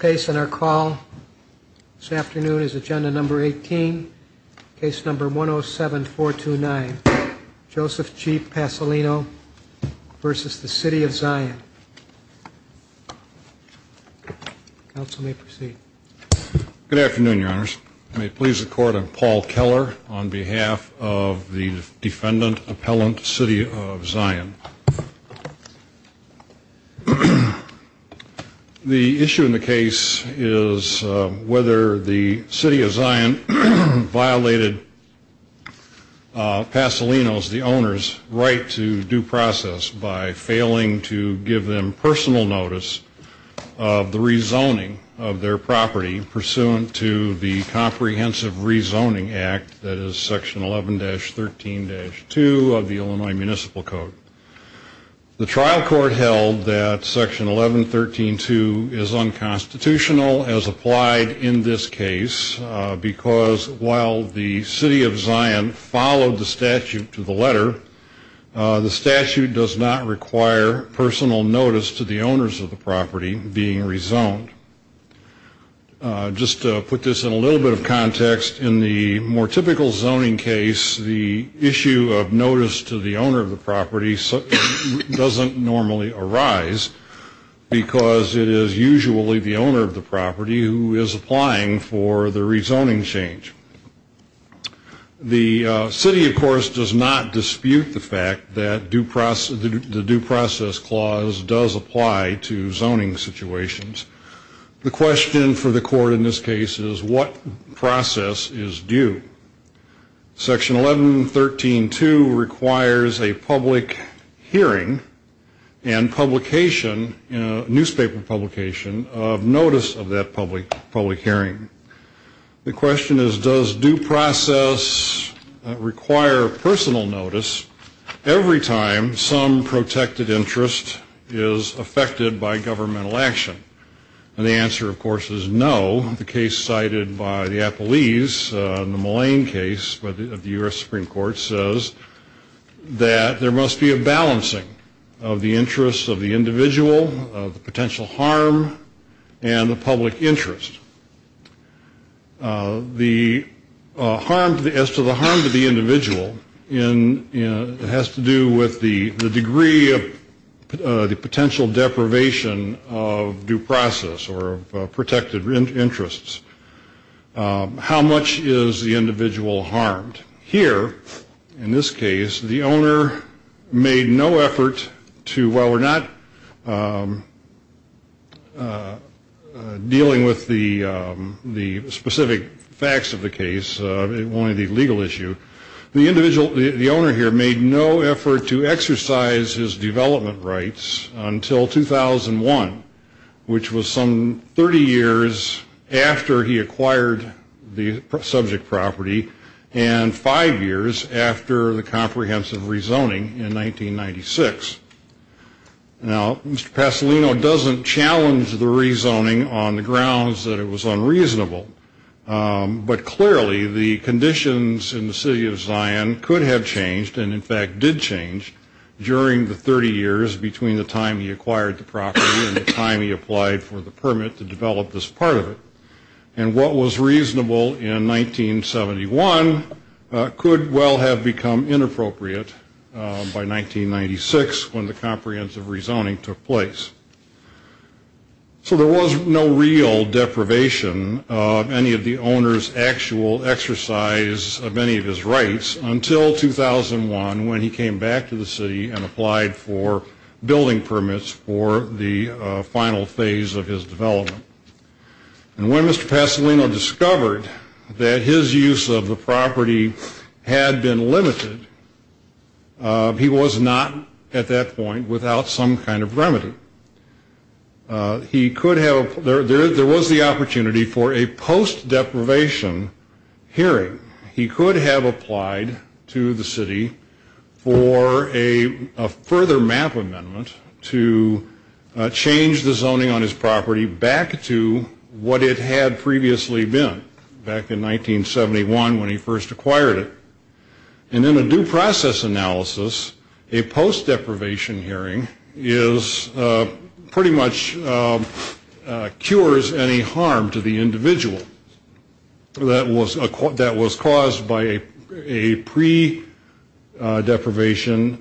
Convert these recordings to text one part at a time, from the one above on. Case in our call this afternoon is agenda number 18, case number 107-429, Joseph G. Pasolino versus the City of Zion. Counsel may proceed. Good afternoon, your honors. I may please the court, I'm Paul Keller on behalf of the defendant, appellant, City of Zion. The issue in the case is whether the City of Zion violated Pasolino's, the owner's, right to due process by failing to give them personal notice of the rezoning of their property pursuant to the Comprehensive Rezoning Act, that is section 11-13-2 of the Illinois Municipal Code. The trial court held that section 11-13-2 is unconstitutional as applied in this case because while the City of Zion followed the statute to the letter, the statute does not require personal notice to the owners of the property being rezoned. Just to put this in a little bit of context, in the more typical zoning case, the issue of notice to the owner of the property doesn't normally arise because it is usually the owner of the property who is applying for the rezoning change. The city, of course, does not dispute the fact that the due process clause does apply to zoning situations. The question for the court in this case is what process is due? Section 11-13-2 requires a public hearing and publication, newspaper publication, of notice of that public hearing. The question is does due process require personal notice every time some protected interest is affected by governmental action? The answer, of course, is no. The case cited by the appellees in the Mullane case of the U.S. Supreme Court says that there must be a balancing of the interests of the individual, of the potential harm, and the public interest. As to the harm to the individual, it has to do with the degree of the potential deprivation of due process or of protected interests. How much is the individual harmed? Here, in this case, the owner made no effort to, while we're not dealing with the specific facts of the case, only the legal issue, the owner here made no effort to exercise his development rights until 2001, which was some 30 years after he acquired the subject property and five years after the comprehensive rezoning in 1996. Now, Mr. Pasolino doesn't challenge the rezoning on the grounds that it was unreasonable, but clearly the conditions in the city of Zion could have changed, and in fact did change, during the 30 years between the time he acquired the property and the time he applied for the permit to develop this part of it. And what was reasonable in 1971 could well have become inappropriate by 1996 when the comprehensive rezoning took place. So there was no real deprivation of any of the owner's actual exercise of any of his rights until 2001 when he came back to the city and applied for building permits for the final phase of his development. When Mr. Pasolino discovered that his use of the property had been limited, he was not, at that point, without some kind of remedy. There was the opportunity for a post-deprivation hearing. He could have applied to the city for a further map amendment to change the zoning on his property back to what it had previously been back in 1971 when he first acquired it. And in a due process analysis, a post-deprivation hearing pretty much cures any harm to the individual that was caused by a pre-deprivation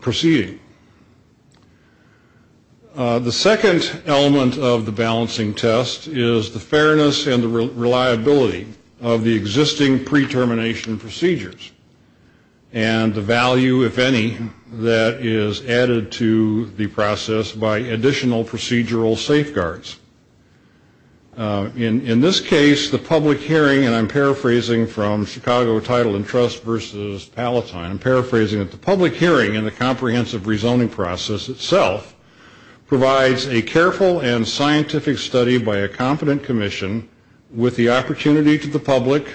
proceeding. The second element of the balancing test is the fairness and the reliability of the existing pre-termination procedures and the value, if any, that is added to the process by additional procedural safeguards. In this case, the public hearing, and I'm paraphrasing from Chicago Title and Trust versus Palatine, I'm paraphrasing it. The public hearing in the comprehensive rezoning process itself provides a careful and scientific study by a competent commission with the opportunity to the public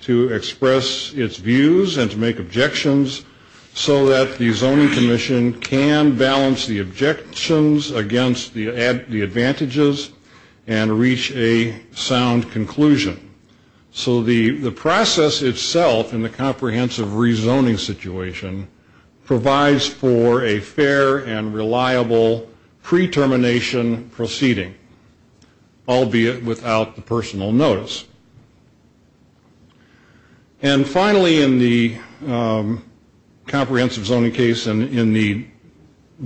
to express its views and to make objections so that the zoning commission can balance the objections against the advantages and the disadvantages. And reach a sound conclusion. So the process itself in the comprehensive rezoning situation provides for a fair and reliable pre-termination proceeding, albeit without the personal notice. And finally, in the comprehensive zoning case and in the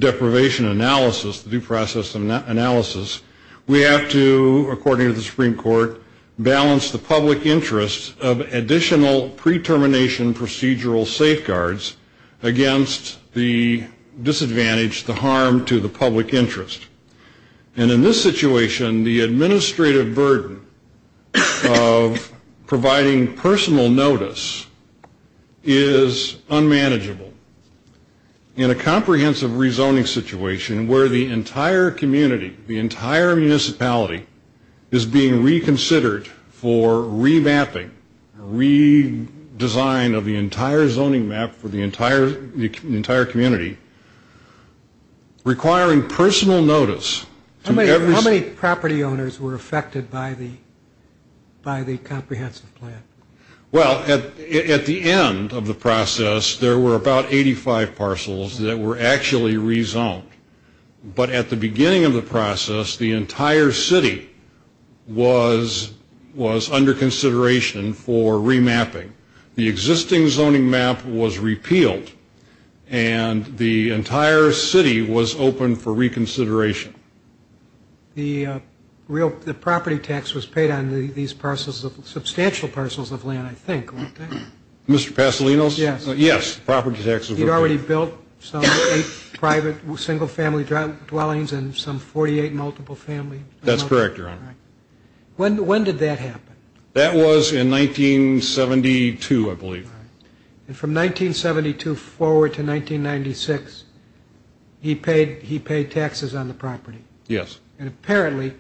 deprivation analysis, the due process analysis, we have to, according to the Supreme Court, balance the public interest of additional pre-termination procedural safeguards against the disadvantage, the harm to the public interest. And in this situation, the administrative burden of providing personal notice is unmanageable. In a comprehensive rezoning situation where the entire community, the entire municipality is being reconsidered for remapping, redesign of the entire zoning map for the entire community, requiring personal notice. How many property owners were affected by the comprehensive plan? Well, at the end of the process, there were about 85 parcels that were actually rezoned. But at the beginning of the process, the entire city was under consideration for remapping. The existing zoning map was repealed, and the entire city was open for reconsideration. The property tax was paid on these parcels, substantial parcels of land, I think. Mr. Pasolinos? Yes. Yes, property taxes were paid. He already built some private single-family dwellings and some 48 multiple-family. That's correct, Your Honor. When did that happen? That was in 1972, I believe. And from 1972 forward to 1996, he paid taxes on the property? Yes. And apparently,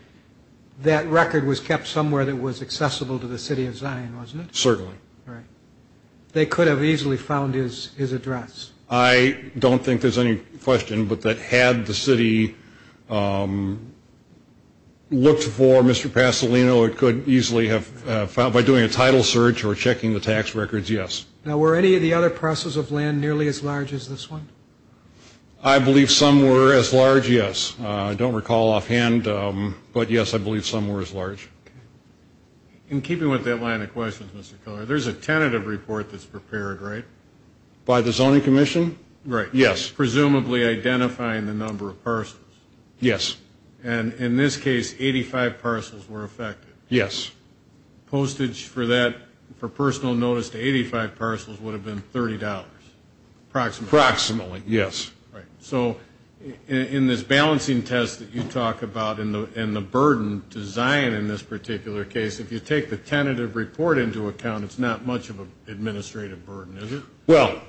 that record was kept somewhere that was accessible to the city of Zion, wasn't it? Certainly. Right. They could have easily found his address. I don't think there's any question but that had the city looked for Mr. Pasolino, it could easily have found by doing a title search or checking the tax records, yes. Now, were any of the other parcels of land nearly as large as this one? I believe some were as large, yes. I don't recall offhand, but, yes, I believe some were as large. In keeping with that line of questions, Mr. Keller, there's a tentative report that's prepared, right? By the Zoning Commission? Right. Yes. Presumably identifying the number of parcels? Yes. And in this case, 85 parcels were affected? Yes. Postage for that, for personal notice to 85 parcels, would have been $30 approximately? Approximately, yes. Right. So in this balancing test that you talk about and the burden to Zion in this particular case, if you take the tentative report into account, it's not much of an administrative burden, is it? Well,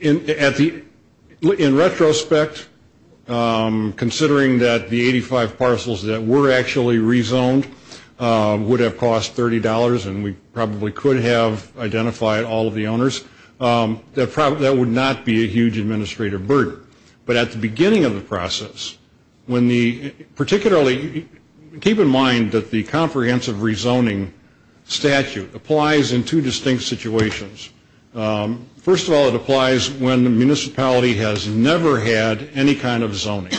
in retrospect, considering that the 85 parcels that were actually rezoned would have cost $30 and we probably could have identified all of the owners, that would not be a huge administrative burden. But at the beginning of the process, particularly keep in mind that the comprehensive rezoning statute applies in two distinct situations. First of all, it applies when the municipality has never had any kind of zoning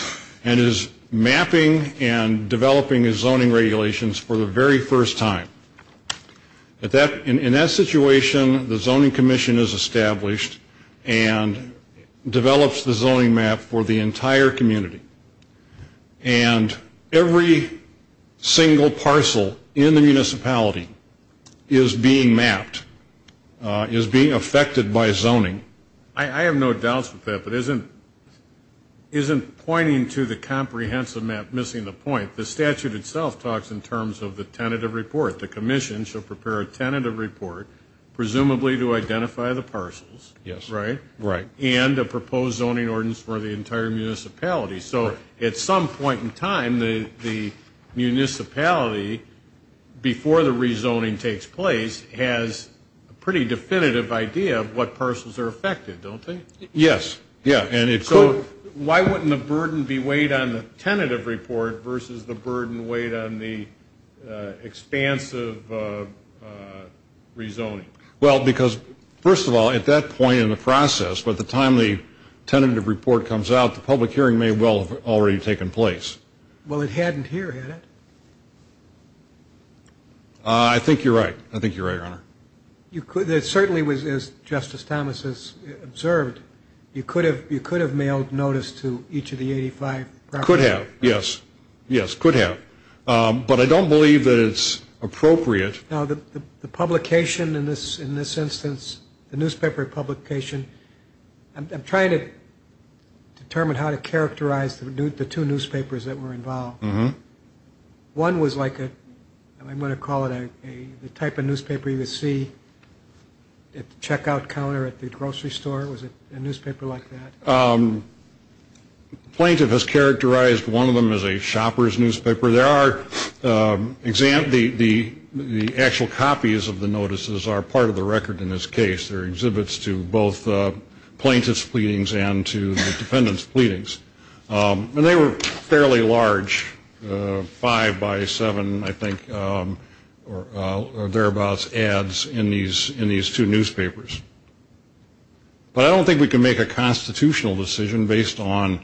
and is mapping and developing its zoning regulations for the very first time. In that situation, the zoning commission is established and develops the zoning map for the entire community. And every single parcel in the municipality is being mapped, is being affected by zoning. I have no doubts with that, but isn't pointing to the comprehensive map missing the point? The statute itself talks in terms of the tentative report. The commission should prepare a tentative report, presumably to identify the parcels. Yes. Right? Right. And a proposed zoning ordinance for the entire municipality. So at some point in time, the municipality, before the rezoning takes place, has a pretty definitive idea of what parcels are affected, don't they? Yes. So why wouldn't the burden be weighed on the tentative report versus the burden weighed on the expansive rezoning? Well, because, first of all, at that point in the process, by the time the tentative report comes out, the public hearing may well have already taken place. Well, it hadn't here, had it? I think you're right. I think you're right, Your Honor. It certainly was, as Justice Thomas has observed, you could have mailed notice to each of the 85 properties. Could have, yes. Yes, could have. But I don't believe that it's appropriate. Now, the publication in this instance, the newspaper publication, I'm trying to determine how to characterize the two newspapers that were involved. One was like a, I'm going to call it the type of newspaper you would see at the checkout counter at the grocery store. Was it a newspaper like that? The plaintiff has characterized one of them as a shopper's newspaper. The actual copies of the notices are part of the record in this case. They're exhibits to both plaintiff's pleadings and to the defendant's pleadings. And they were fairly large, five by seven, I think, or thereabouts ads in these two newspapers. But I don't think we can make a constitutional decision based on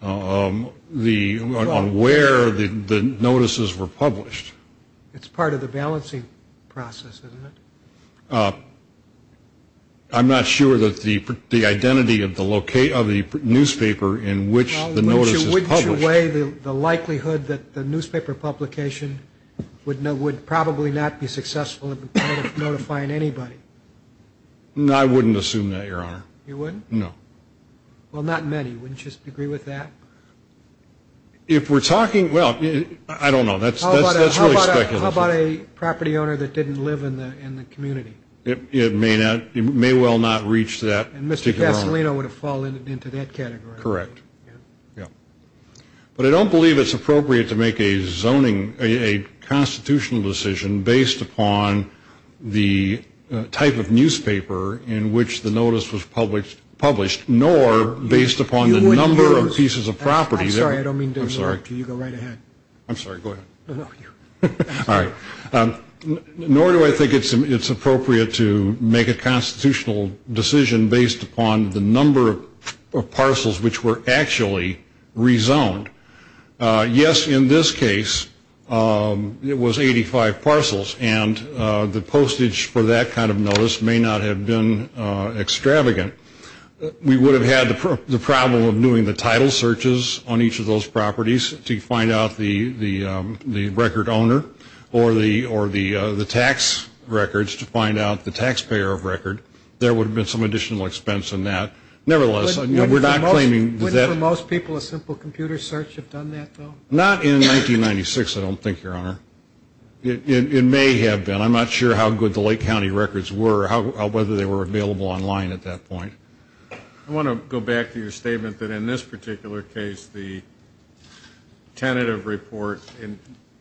where the notices were published. It's part of the balancing process, isn't it? I'm not sure that the identity of the newspaper in which the notice is published. Wouldn't you weigh the likelihood that the newspaper publication would probably not be successful at notifying anybody? I wouldn't assume that, Your Honor. You wouldn't? No. Well, not many. Wouldn't you agree with that? If we're talking, well, I don't know. That's really speculative. How about a property owner that didn't live in the community? It may well not reach that. And Mr. Casolino would have fallen into that category. Correct. But I don't believe it's appropriate to make a zoning, a constitutional decision based upon the type of newspaper in which the notice was published, nor based upon the number of pieces of property. I'm sorry. I don't mean to interrupt you. You go right ahead. I'm sorry. Go ahead. All right. Nor do I think it's appropriate to make a constitutional decision based upon the number of parcels which were actually rezoned. Yes, in this case, it was 85 parcels, and the postage for that kind of notice may not have been extravagant. We would have had the problem of doing the title searches on each of those properties to find out the record owner, or the tax records to find out the taxpayer of record. There would have been some additional expense in that. Nevertheless, we're not claiming that. Wouldn't for most people a simple computer search have done that, though? Not in 1996, I don't think, Your Honor. It may have been. I'm not sure how good the Lake County records were or whether they were available online at that point. I want to go back to your statement that in this particular case, the tentative report,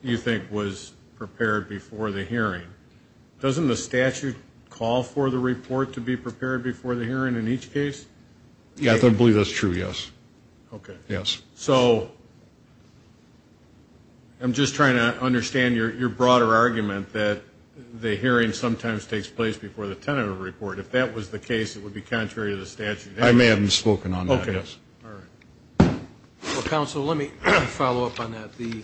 you think, was prepared before the hearing. Doesn't the statute call for the report to be prepared before the hearing in each case? I believe that's true, yes. Okay. Yes. So I'm just trying to understand your broader argument that the hearing sometimes takes place before the tentative report. If that was the case, it would be contrary to the statute. I may have misspoken on that, yes. Okay. All right. Well, counsel, let me follow up on that. The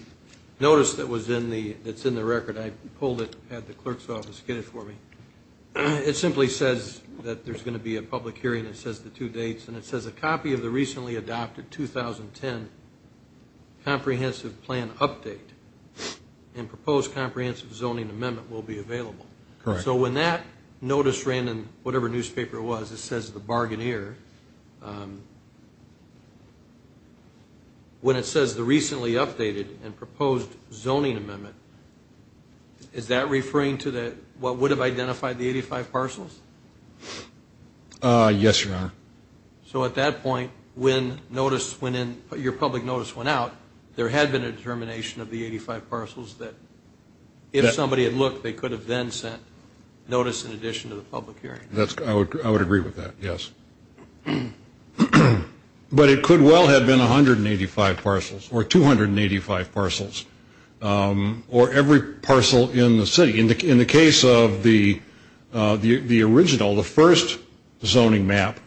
notice that's in the record, I pulled it at the clerk's office to get it for me. It simply says that there's going to be a public hearing. It says the two dates, and it says a copy of the recently adopted 2010 comprehensive plan update and proposed comprehensive zoning amendment will be available. Correct. So when that notice ran in whatever newspaper it was, it says the bargainer. When it says the recently updated and proposed zoning amendment, is that referring to what would have identified the 85 parcels? Yes, Your Honor. So at that point, when notice went in, your public notice went out, there had been a determination of the 85 parcels that if somebody had looked, they could have then sent notice in addition to the public hearing. I would agree with that, yes. But it could well have been 185 parcels or 285 parcels or every parcel in the city. In the case of the original, the first zoning map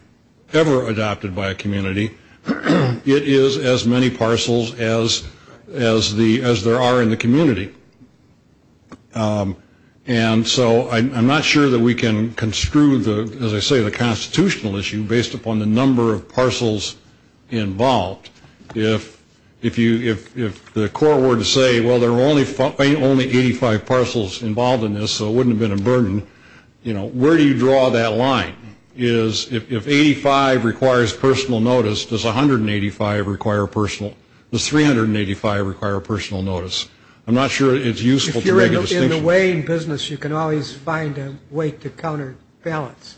ever adopted by a community, it is as many parcels as there are in the community. And so I'm not sure that we can construe, as I say, the constitutional issue based upon the number of parcels involved. If the court were to say, well, there are only 85 parcels involved in this, so it wouldn't have been a burden, where do you draw that line? If 85 requires personal notice, does 385 require personal notice? I'm not sure it's useful to make a distinction. If you're in the weighing business, you can always find a way to counterbalance.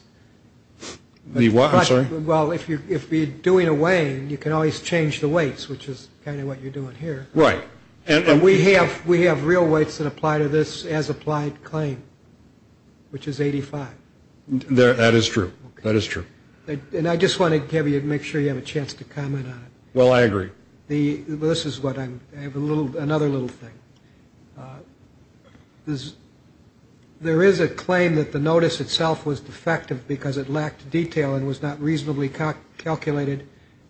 I'm sorry? Well, if you're doing a weighing, you can always change the weights, which is kind of what you're doing here. Right. And we have real weights that apply to this as applied claim, which is 85. That is true. That is true. And I just wanted to make sure you have a chance to comment on it. Well, I agree. This is what I'm ‑‑ another little thing. There is a claim that the notice itself was defective because it lacked detail and was not reasonably calculated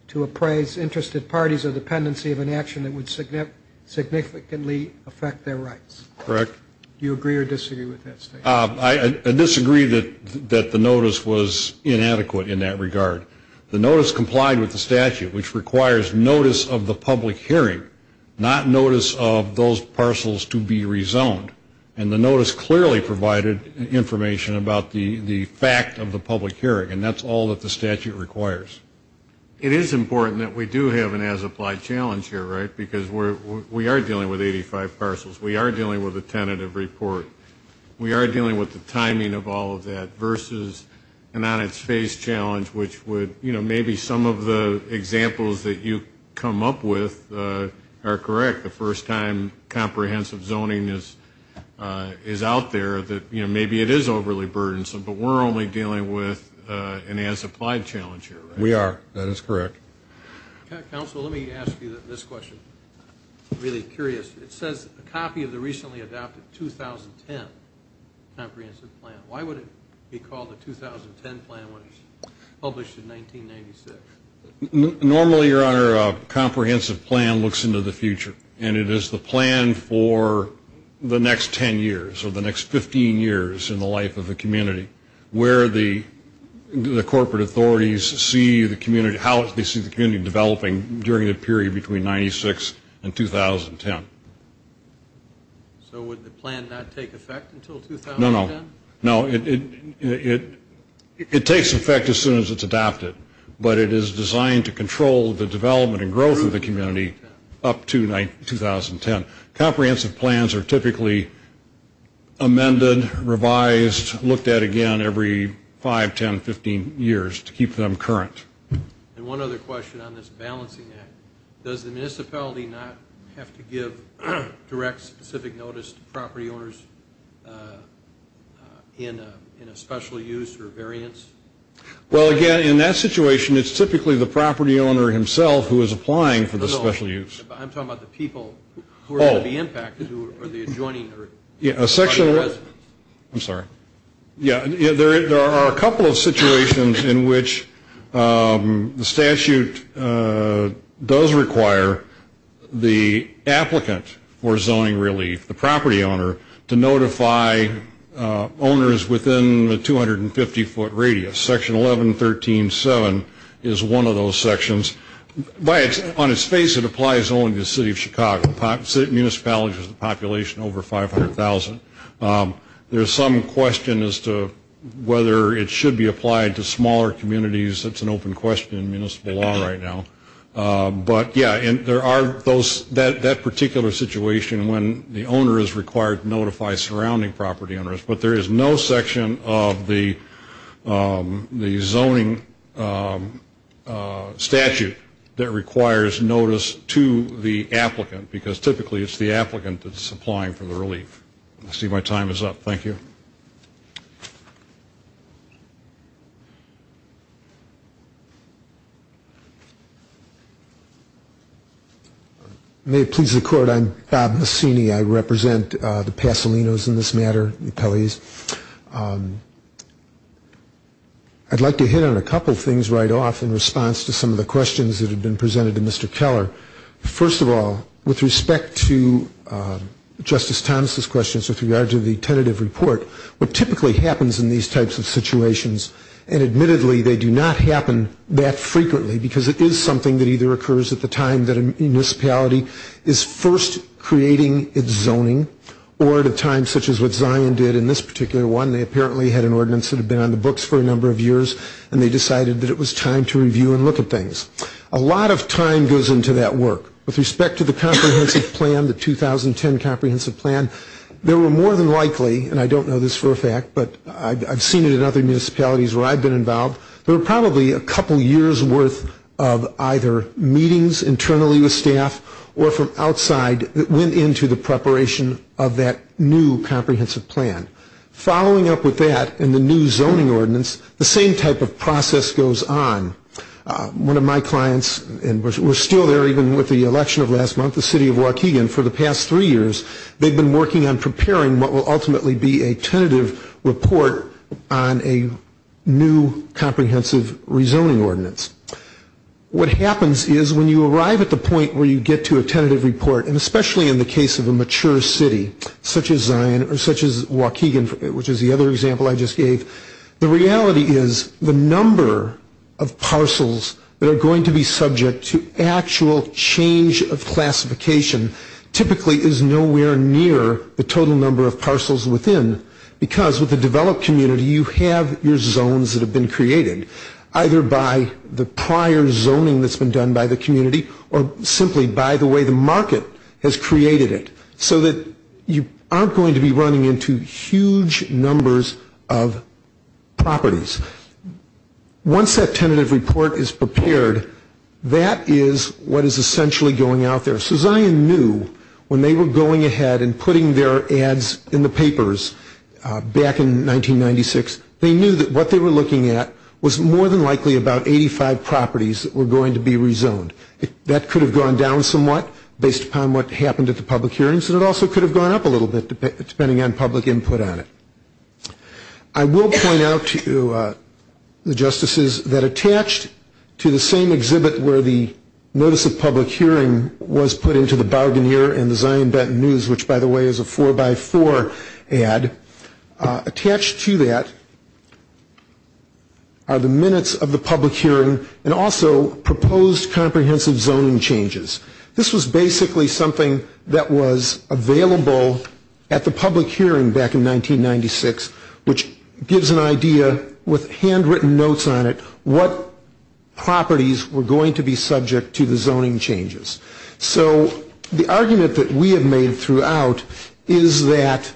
to appraise interested parties of dependency of an action that would significantly affect their rights. Correct. Do you agree or disagree with that statement? I disagree that the notice was inadequate in that regard. The notice complied with the statute, which requires notice of the public hearing, not notice of those parcels to be rezoned. And the notice clearly provided information about the fact of the public hearing, and that's all that the statute requires. It is important that we do have an as applied challenge here, right, because we are dealing with 85 parcels. We are dealing with a tentative report. We are dealing with the timing of all of that versus an on its face challenge, which would, you know, maybe some of the examples that you come up with are correct. The first time comprehensive zoning is out there that, you know, maybe it is overly burdensome, but we're only dealing with an as applied challenge here, right? We are. That is correct. Counsel, let me ask you this question. I'm really curious. It says a copy of the recently adopted 2010 comprehensive plan. Why would it be called a 2010 plan when it was published in 1996? Normally, Your Honor, a comprehensive plan looks into the future, and it is the plan for the next 10 years or the next 15 years in the life of a community where the corporate authorities see the community, how they see the community developing during the period between 96 and 2010. So would the plan not take effect until 2010? No, no, no. It takes effect as soon as it's adopted, but it is designed to control the development and growth of the community up to 2010. Comprehensive plans are typically amended, revised, looked at again every 5, 10, 15 years to keep them current. And one other question on this balancing act. Does the municipality not have to give direct specific notice to property owners in a special use or variance? Well, again, in that situation, it's typically the property owner himself who is applying for the special use. I'm talking about the people who are under the impact or the adjoining residents. I'm sorry. Yeah, there are a couple of situations in which the statute does require the applicant for zoning relief, the property owner, to notify owners within the 250-foot radius. Section 1113.7 is one of those sections. On its face, it applies only to the city of Chicago. The municipality has a population over 500,000. There's some question as to whether it should be applied to smaller communities. That's an open question in municipal law right now. But, yeah, there are those, that particular situation when the owner is required to notify surrounding property owners. But there is no section of the zoning statute that requires notice to the applicant, because typically it's the applicant that's applying for the relief. I see my time is up. Thank you. May it please the Court, I'm Bob Mussini. I represent the Pasolinos in this matter, the Pelleys. I'd like to hit on a couple things right off in response to some of the questions that have been presented to Mr. Keller. First of all, with respect to Justice Thomas' questions with regard to the tentative report, what typically happens in these types of situations, and admittedly they do not happen that frequently, because it is something that either occurs at the time that a municipality is first creating its zoning, or at a time such as what Zion did in this particular one. They apparently had an ordinance that had been on the books for a number of years, and they decided that it was time to review and look at things. A lot of time goes into that work. With respect to the comprehensive plan, the 2010 comprehensive plan, there were more than likely, and I don't know this for a fact, but I've seen it in other municipalities where I've been involved, there were probably a couple years' worth of either meetings internally with staff or from outside that went into the preparation of that new comprehensive plan. Following up with that and the new zoning ordinance, the same type of process goes on. One of my clients, and we're still there even with the election of last month, the city of Waukegan, for the past three years they've been working on preparing what will ultimately be a tentative report on a new comprehensive rezoning ordinance. What happens is when you arrive at the point where you get to a tentative report, and especially in the case of a mature city such as Waukegan, which is the other example I just gave, the reality is the number of parcels that are going to be subject to actual change of classification typically is nowhere near the total number of parcels within, because with a developed community you have your zones that have been created, either by the prior zoning that's been done by the community or simply by the way the market has created it, so that you aren't going to be running into huge numbers of properties. Once that tentative report is prepared, that is what is essentially going out there. So Zion knew when they were going ahead and putting their ads in the papers back in 1996, they knew that what they were looking at was more than likely about 85 properties that were going to be rezoned. That could have gone down somewhat based upon what happened at the public hearings, and it also could have gone up a little bit depending on public input on it. I will point out to the justices that attached to the same exhibit where the notice of public hearing was put into the Bargainer and the Zion Benton News, which by the way is a four by four ad, attached to that are the minutes of the public hearing and also proposed comprehensive zoning changes. This was basically something that was available at the public hearing back in 1996, which gives an idea with handwritten notes on it what properties were going to be subject to the zoning changes. So the argument that we have made throughout is that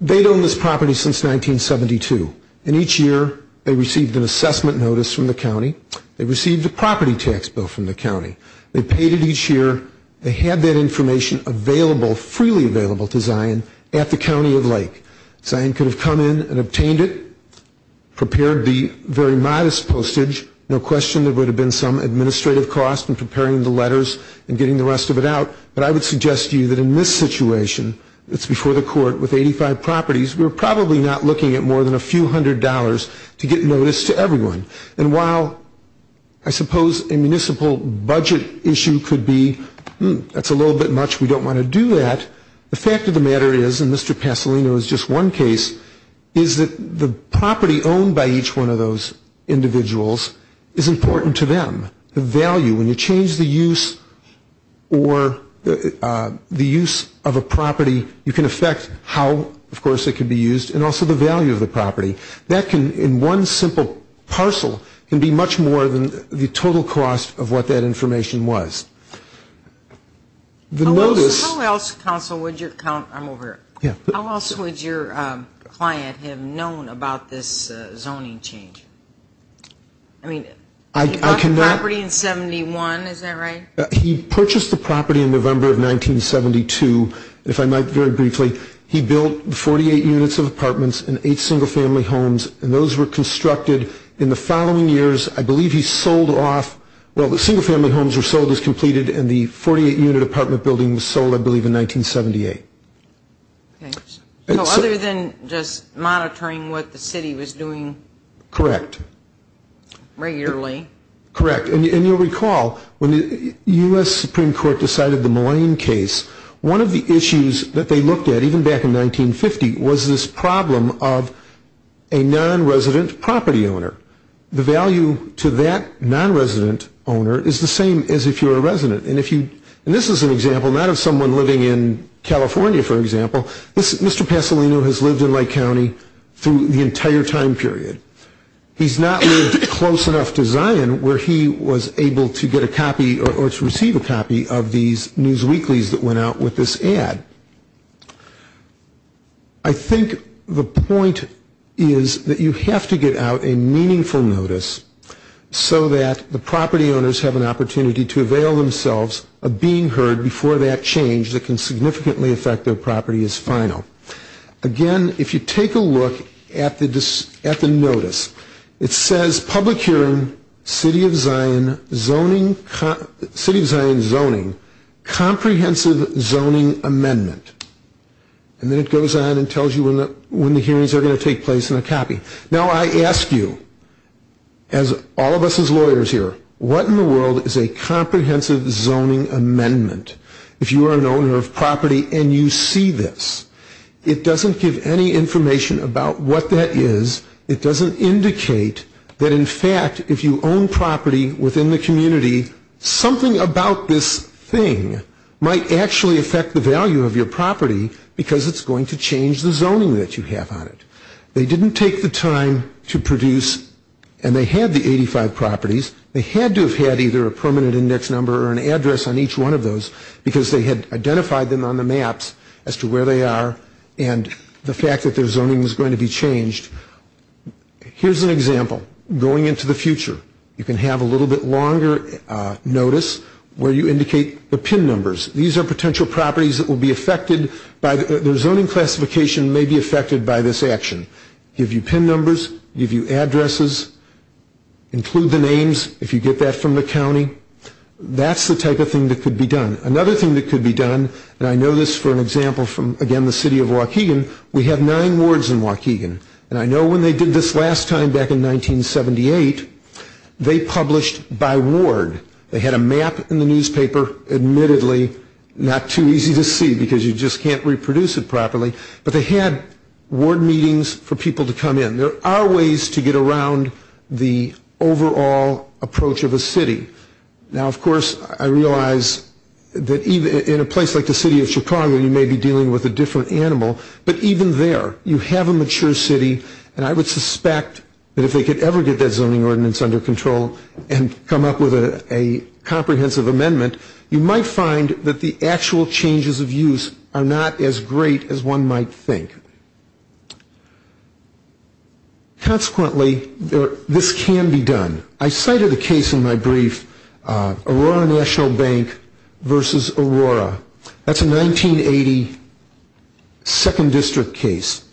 they'd owned this property since 1972, and each year they received an assessment notice from the county. They received a property tax bill from the county. They paid it each year. They had that information available, freely available to Zion at the county of Lake. Zion could have come in and obtained it, prepared the very modest postage. No question there would have been some administrative cost in preparing the letters and getting the rest of it out, but I would suggest to you that in this situation, it's before the court with 85 properties, we're probably not looking at more than a few hundred dollars to get notice to everyone. And while I suppose a municipal budget issue could be that's a little bit much, we don't want to do that, the fact of the matter is, and Mr. Pasolino is just one case, is that the property owned by each one of those individuals is important to them, the value. When you change the use or the use of a property, you can affect how, of course, it can be used, and also the value of the property. That can, in one simple parcel, can be much more than the total cost of what that information was. How else, counsel, would your client have known about this zoning change? I mean, he bought the property in 71, is that right? He purchased the property in November of 1972, if I might very briefly. He built 48 units of apartments and eight single-family homes, and those were constructed in the following years. I believe he sold off, well, the single-family homes were sold as completed, and the 48-unit apartment building was sold, I believe, in 1978. Okay. So other than just monitoring what the city was doing? Correct. Regularly? Correct. And you'll recall, when the U.S. Supreme Court decided the Moline case, one of the issues that they looked at, even back in 1950, was this problem of a non-resident property owner. The value to that non-resident owner is the same as if you're a resident. And this is an example, not of someone living in California, for example. Mr. Pasolino has lived in Lake County through the entire time period. He's not lived close enough to Zion where he was able to get a copy or to receive a copy of these news weeklies that went out with this ad. I think the point is that you have to get out a meaningful notice so that the property owners have an opportunity to avail themselves of being heard before that change that can significantly affect their property is final. Again, if you take a look at the notice, it says, Public Hearing, City of Zion Zoning, Comprehensive Zoning Amendment. And then it goes on and tells you when the hearings are going to take place and a copy. Now, I ask you, as all of us as lawyers here, what in the world is a comprehensive zoning amendment? If you are an owner of property and you see this, it doesn't give any information about what that is. It doesn't indicate that, in fact, if you own property within the community, something about this thing might actually affect the value of your property because it's going to change the zoning that you have on it. They didn't take the time to produce, and they had the 85 properties. They had to have had either a permanent index number or an address on each one of those because they had identified them on the maps as to where they are and the fact that their zoning was going to be changed. Here's an example. Going into the future, you can have a little bit longer notice where you indicate the PIN numbers. These are potential properties that will be affected by their zoning classification may be affected by this action. Give you PIN numbers. Give you addresses. Include the names if you get that from the county. That's the type of thing that could be done. Another thing that could be done, and I know this for an example from, again, the city of Waukegan, we have nine wards in Waukegan, and I know when they did this last time back in 1978, they published by ward. They had a map in the newspaper. Admittedly, not too easy to see because you just can't reproduce it properly, but they had ward meetings for people to come in. There are ways to get around the overall approach of a city. Now, of course, I realize that in a place like the city of Chicago, you may be dealing with a different animal, but even there you have a mature city, and I would suspect that if they could ever get that zoning ordinance under control and come up with a comprehensive amendment, you might find that the actual changes of use are not as great as one might think. Consequently, this can be done. I cited a case in my brief, Aurora National Bank versus Aurora. That's a 1980 second district case.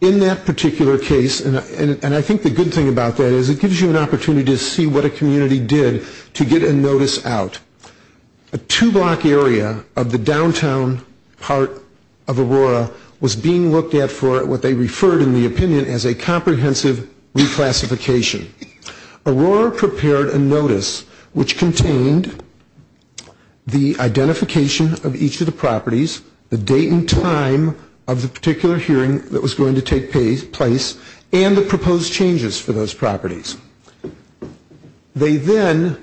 In that particular case, and I think the good thing about that is it gives you an opportunity to see what a community did to get a notice out. A two-block area of the downtown part of Aurora was being looked at for what they referred in the opinion as a comprehensive reclassification. Aurora prepared a notice which contained the identification of each of the properties, the date and time of the particular hearing that was going to take place, and the proposed changes for those properties. They then,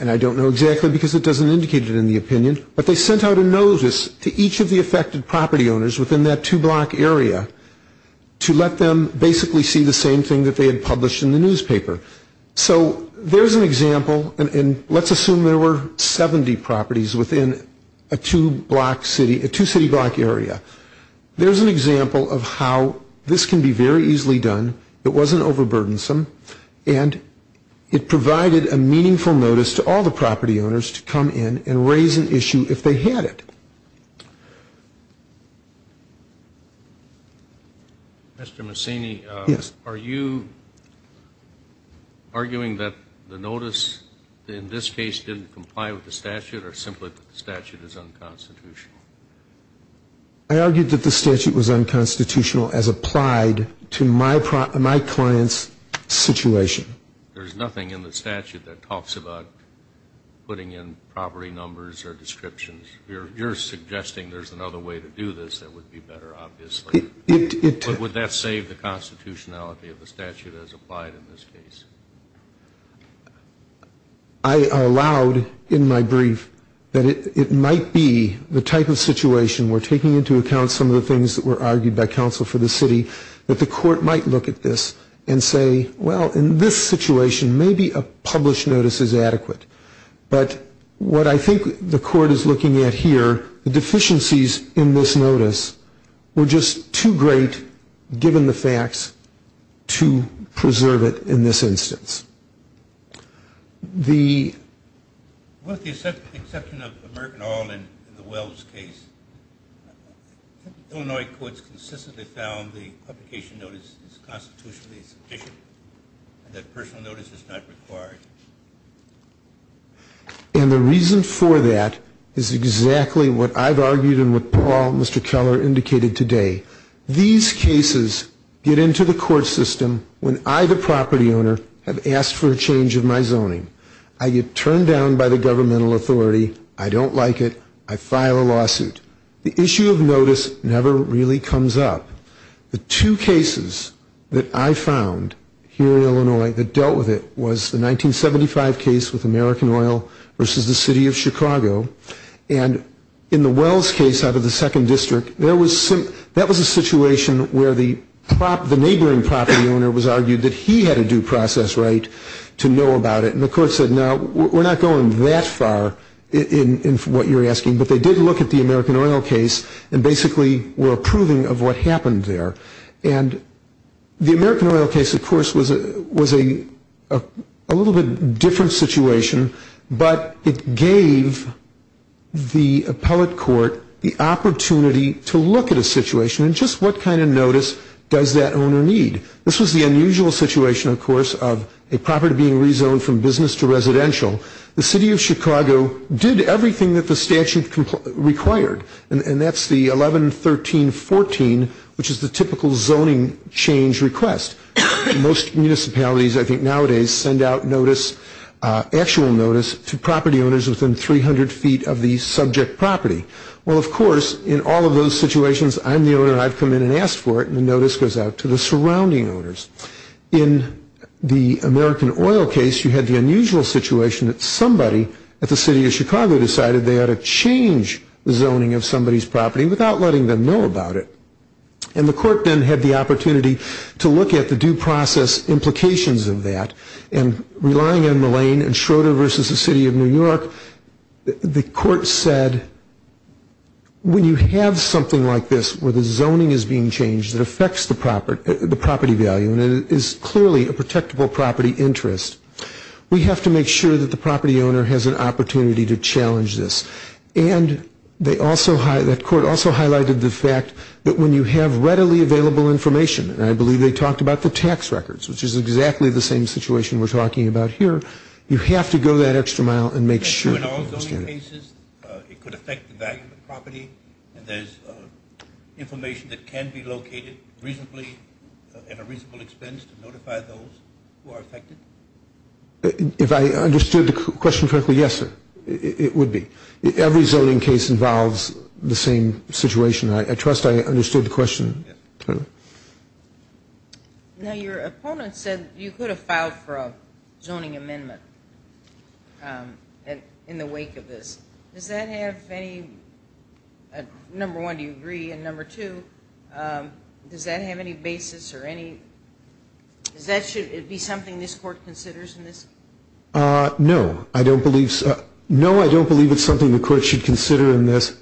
and I don't know exactly because it doesn't indicate it in the opinion, but they sent out a notice to each of the affected property owners within that two-block area to let them basically see the same thing that they had published in the newspaper. So there's an example, and let's assume there were 70 properties within a two-city block area. There's an example of how this can be very easily done. It wasn't overburdensome, and it provided a meaningful notice to all the property owners to come in and raise an issue if they had it. Mr. Massini, are you arguing that the notice in this case didn't comply with the statute or simply that the statute is unconstitutional? I argued that the statute was unconstitutional as applied to my client's situation. There's nothing in the statute that talks about putting in property numbers or descriptions. You're suggesting there's another way to do this that would be better, obviously. But would that save the constitutionality of the statute as applied in this case? I allowed in my brief that it might be the type of situation we're taking into account some of the things that were argued by counsel for the city that the court might look at this and say, well, in this situation, maybe a published notice is adequate. But what I think the court is looking at here, the deficiencies in this notice were just too great, given the facts, to preserve it in this instance. With the exception of American Oil in the Wells case, Illinois courts consistently found the publication notice is constitutionally sufficient and that personal notice is not required. And the reason for that is exactly what I've argued and what Paul and Mr. Keller indicated today. These cases get into the court system when I, the property owner, have asked for a change of my zoning. I get turned down by the governmental authority. I don't like it. I file a lawsuit. The issue of notice never really comes up. The two cases that I found here in Illinois that dealt with it was the 1975 case with American Oil versus the city of Chicago. And in the Wells case out of the second district, that was a situation where the neighboring property owner was argued that he had a due process right to know about it. And the court said, no, we're not going that far in what you're asking. But they did look at the American Oil case and basically were approving of what happened there. And the American Oil case, of course, was a little bit different situation, but it gave the appellate court the opportunity to look at a situation and just what kind of notice does that owner need. This was the unusual situation, of course, of a property being rezoned from business to residential. The city of Chicago did everything that the statute required, and that's the 11-13-14, which is the typical zoning change request. Most municipalities I think nowadays send out notice, actual notice, to property owners within 300 feet of the subject property. Well, of course, in all of those situations, I'm the owner. I've come in and asked for it, and the notice goes out to the surrounding owners. In the American Oil case, you had the unusual situation that somebody at the city of Chicago decided they ought to change the zoning of somebody's property without letting them know about it. And the court then had the opportunity to look at the due process implications of that. And relying on Mullane and Schroeder versus the city of New York, the court said, when you have something like this where the zoning is being changed that affects the property value and it is clearly a protectable property interest, we have to make sure that the property owner has an opportunity to challenge this. And that court also highlighted the fact that when you have readily available information, and I believe they talked about the tax records, which is exactly the same situation we're talking about here, you have to go that extra mile and make sure. So in all zoning cases, it could affect the value of the property, and there's information that can be located reasonably at a reasonable expense to notify those who are affected? If I understood the question correctly, yes, sir, it would be. Every zoning case involves the same situation. I trust I understood the question. Yes. Now, your opponent said you could have filed for a zoning amendment in the wake of this. Does that have any – number one, do you agree? And number two, does that have any basis or any – should it be something this court considers in this? No, I don't believe so. No, I don't believe it's something the court should consider in this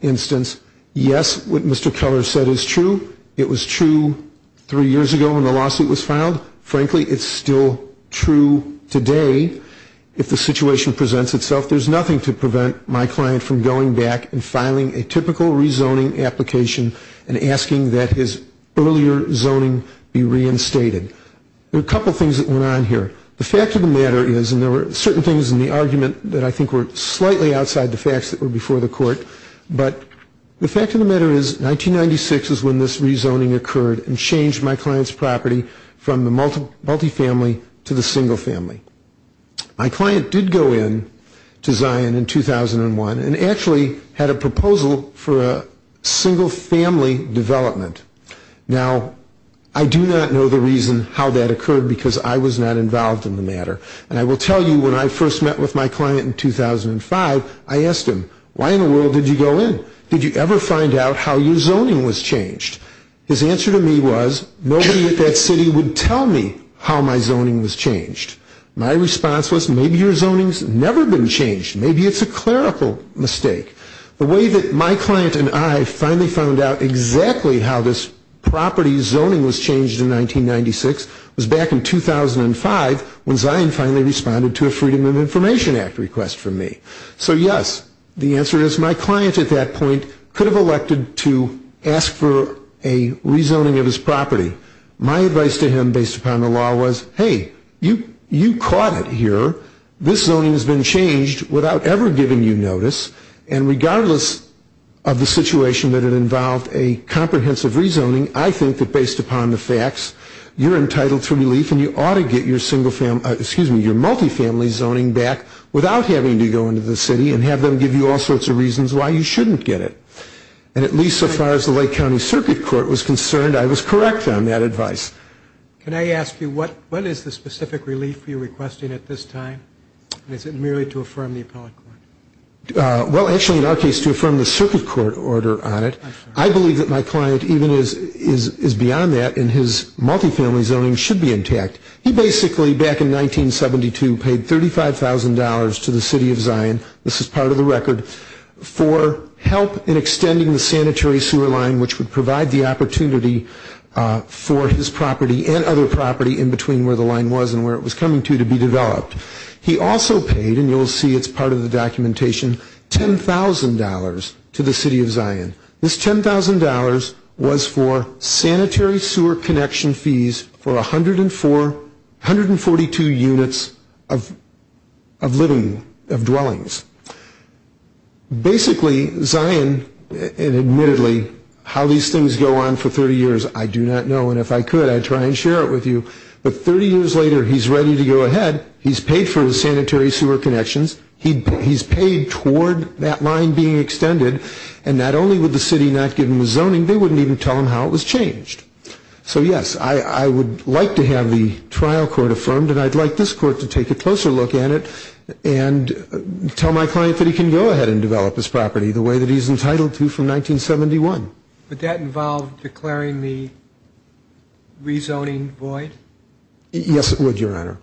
instance. Yes, what Mr. Keller said is true. It was true three years ago when the lawsuit was filed. Frankly, it's still true today if the situation presents itself. There's nothing to prevent my client from going back and filing a typical rezoning application and asking that his earlier zoning be reinstated. There are a couple things that went on here. The fact of the matter is, and there were certain things in the argument that I think were slightly outside the facts that were before the court, but the fact of the matter is 1996 is when this rezoning occurred and changed my client's property from the multifamily to the single family. My client did go in to Zion in 2001 and actually had a proposal for a single family development. Now, I do not know the reason how that occurred because I was not involved in the matter. And I will tell you when I first met with my client in 2005, I asked him, why in the world did you go in? Did you ever find out how your zoning was changed? His answer to me was, nobody at that city would tell me how my zoning was changed. My response was, maybe your zoning's never been changed. Maybe it's a clerical mistake. The way that my client and I finally found out exactly how this property zoning was changed in 1996 was back in 2005 when Zion finally responded to a Freedom of Information Act request from me. So, yes, the answer is my client at that point could have elected to ask for a rezoning of his property. My advice to him based upon the law was, hey, you caught it here. This zoning has been changed without ever giving you notice. And regardless of the situation that it involved a comprehensive rezoning, I think that based upon the facts, you're entitled to relief and you ought to get your multifamily zoning back without having to go into the city and have them give you all sorts of reasons why you shouldn't get it. And at least so far as the Lake County Circuit Court was concerned, I was correct on that advice. Can I ask you, what is the specific relief you're requesting at this time? Is it merely to affirm the appellate court? Well, actually, in our case, to affirm the circuit court order on it. I believe that my client even is beyond that and his multifamily zoning should be intact. He basically, back in 1972, paid $35,000 to the city of Zion, this is part of the record, for help in extending the sanitary sewer line which would provide the opportunity for his property and other property in between where the line was and where it was coming to to be developed. He also paid, and you'll see it's part of the documentation, $10,000 to the city of Zion. This $10,000 was for sanitary sewer connection fees for 142 units of dwellings. Basically, Zion, and admittedly, how these things go on for 30 years, I do not know. And if I could, I'd try and share it with you. But 30 years later, he's ready to go ahead. He's paid for his sanitary sewer connections. He's paid toward that line being extended. And not only would the city not give him the zoning, they wouldn't even tell him how it was changed. So, yes, I would like to have the trial court affirmed, and I'd like this court to take a closer look at it and tell my client that he can go ahead and develop his property the way that he's entitled to from 1971. Would that involve declaring the rezoning void? Yes, it would, Your Honor.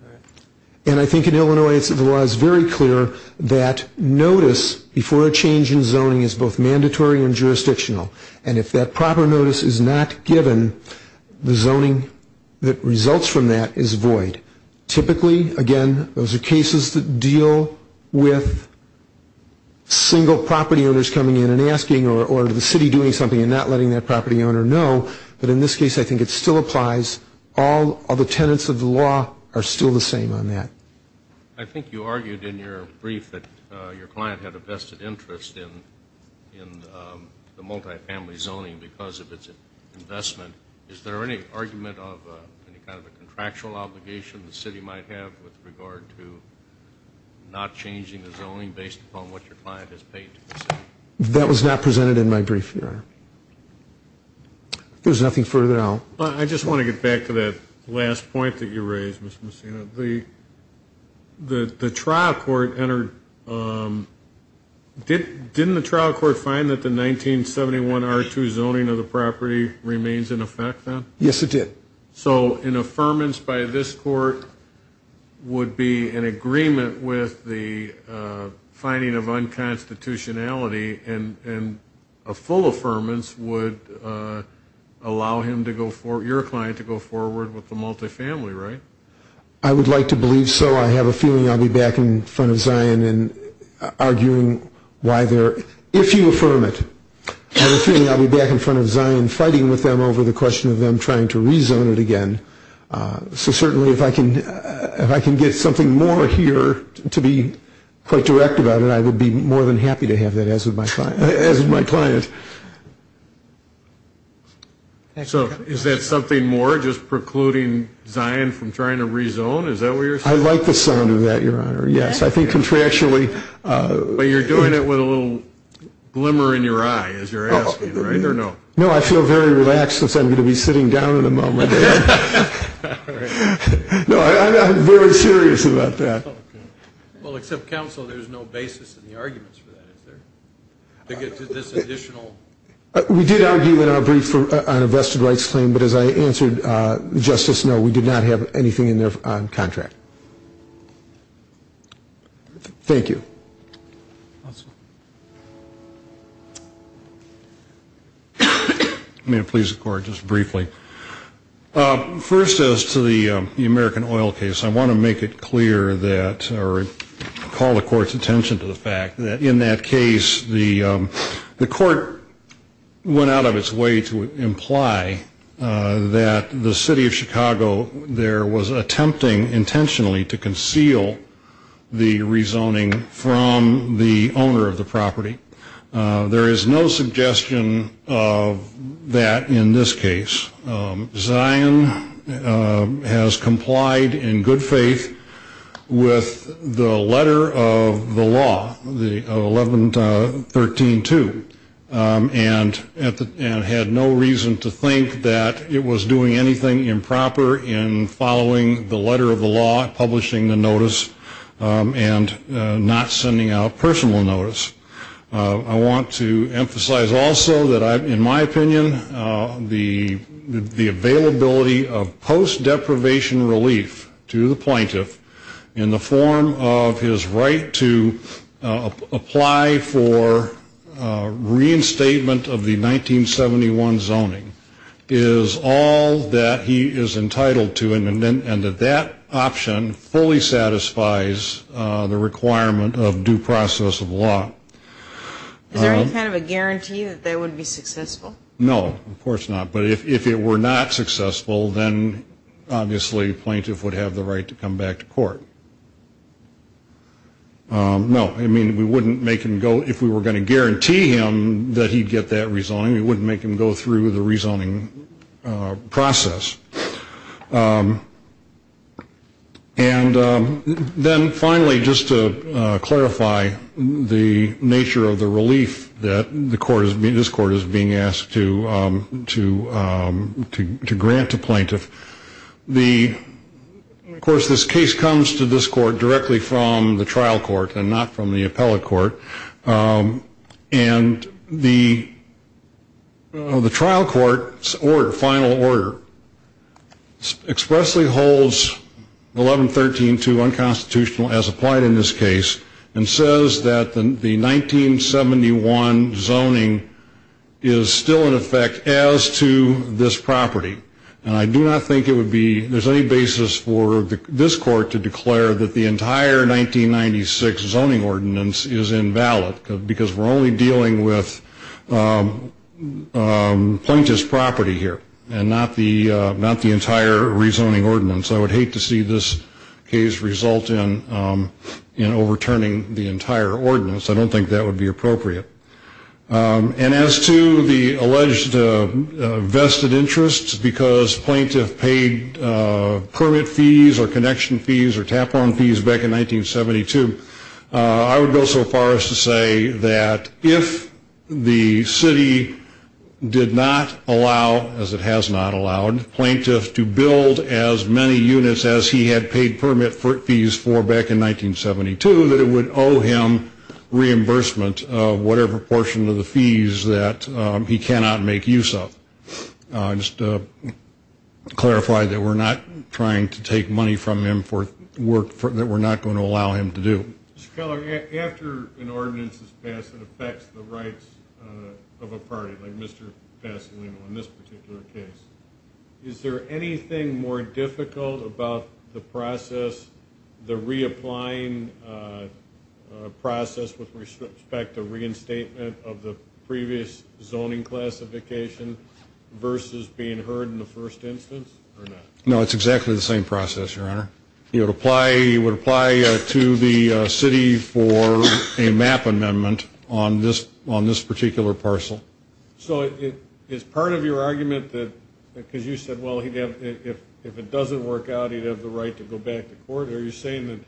And I think in Illinois the law is very clear that notice before a change in zoning is both mandatory and jurisdictional. And if that proper notice is not given, the zoning that results from that is void. Typically, again, those are cases that deal with single property owners coming in and asking or the city doing something and not letting that property owner know. But in this case, I think it still applies. All the tenets of the law are still the same on that. I think you argued in your brief that your client had a vested interest in the multifamily zoning because of its investment. Is there any argument of any kind of a contractual obligation the city might have with regard to not changing the zoning based upon what your client has paid to the city? That was not presented in my brief, Your Honor. There's nothing further now. I just want to get back to that last point that you raised, Mr. Messina. The trial court entered, didn't the trial court find that the 1971 R2 zoning of the property remains in effect then? Yes, it did. Okay. So an affirmance by this court would be in agreement with the finding of unconstitutionality and a full affirmance would allow your client to go forward with the multifamily, right? I would like to believe so. I have a feeling I'll be back in front of Zion arguing why they're ‑‑ if you affirm it. I have a feeling I'll be back in front of Zion fighting with them over the question of them trying to rezone it again. So certainly if I can get something more here to be quite direct about it, I would be more than happy to have that as is my client. So is that something more, just precluding Zion from trying to rezone? Is that what you're saying? I like the sound of that, Your Honor, yes. I think contractually ‑‑ But you're doing it with a little glimmer in your eye as you're asking, right, or no? No, I feel very relaxed since I'm going to be sitting down in a moment. No, I'm very serious about that. Well, except counsel, there's no basis in the arguments for that, is there, to get to this additional? We did argue in our brief on a vested rights claim, but as I answered, Justice, no, we did not have anything in there on contract. Thank you. May it please the Court, just briefly. First, as to the American oil case, I want to make it clear that, or call the Court's attention to the fact that in that case, the Court went out of its way to imply that the City of Chicago there was attempting intentionally to conceal the rezoning from the owner of the property. There is no suggestion of that in this case. Zion has complied in good faith with the letter of the law, 1113.2, and had no reason to think that it was doing anything improper in following the letter of the law, publishing the notice, and not sending out personal notice. I want to emphasize also that in my opinion, the availability of post-deprivation relief to the plaintiff in the form of his right to apply for reinstatement of the 1971 zoning is all that he is entitled to, and that that option fully satisfies the requirement of due process of law. Is there any kind of a guarantee that that would be successful? No, of course not, but if it were not successful, then obviously the plaintiff would have the right to come back to court. No, I mean, we wouldn't make him go, if we were going to guarantee him that he would get that rezoning, we wouldn't make him go through the rezoning process. And then finally, just to clarify the nature of the relief that this court is being asked to grant to plaintiff, of course this case comes to this court directly from the trial court and not from the appellate court, and the trial court's final order expressly holds 1113-2 unconstitutional as applied in this case, and says that the 1971 zoning is still in effect as to this property. And I do not think there's any basis for this court to declare that the entire 1996 zoning ordinance is invalid, because we're only dealing with plaintiff's property here and not the entire rezoning ordinance. I would hate to see this case result in overturning the entire ordinance. I don't think that would be appropriate. And as to the alleged vested interest, because plaintiff paid permit fees or connection fees or tap-on fees back in 1972, I would go so far as to say that if the city did not allow, as it has not allowed, plaintiff to build as many units as he had paid permit fees for back in 1972, that it would owe him reimbursement of whatever portion of the fees that he cannot make use of. I just clarify that we're not trying to take money from him for work that we're not going to allow him to do. Mr. Keller, after an ordinance is passed that affects the rights of a party, like Mr. Pasolino in this particular case, is there anything more difficult about the process, the reapplying process with respect to reinstatement of the previous zoning classification versus being heard in the first instance or not? No, it's exactly the same process, Your Honor. You would apply to the city for a map amendment on this particular parcel. So is part of your argument that because you said, well, if it doesn't work out, he'd have the right to go back to court? Are you saying that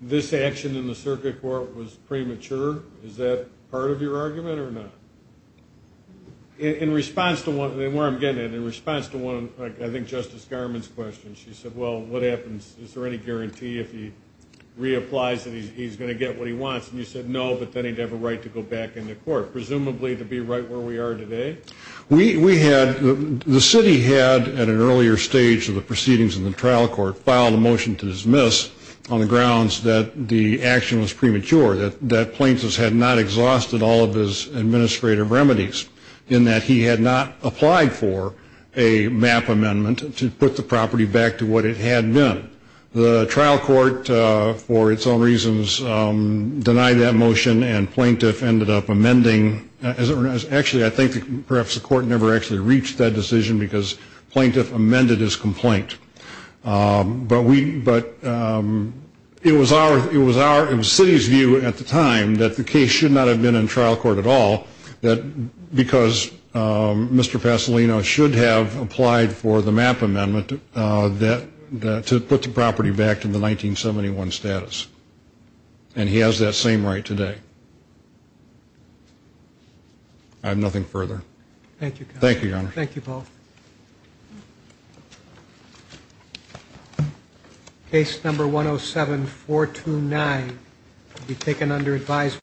this action in the circuit court was premature? Is that part of your argument or not? In response to one, I think Justice Garmon's question, she said, well, what happens? Is there any guarantee if he reapplies that he's going to get what he wants? And you said, no, but then he'd have a right to go back into court, presumably to be right where we are today? We had, the city had at an earlier stage of the proceedings in the trial court, filed a motion to dismiss on the grounds that the action was premature, that plaintiffs had not exhausted all of his administrative remedies, in that he had not applied for a map amendment to put the property back to what it had been. The trial court, for its own reasons, denied that motion and plaintiff ended up amending. Actually, I think perhaps the court never actually reached that decision because plaintiff amended his complaint. But it was our, it was the city's view at the time that the case should not have been in trial court at all, because Mr. Pasolino should have applied for the map amendment to put the property back to the 1971 status. And he has that same right today. I have nothing further. Thank you. Thank you, Paul. Case number 107-429 will be taken under advisory.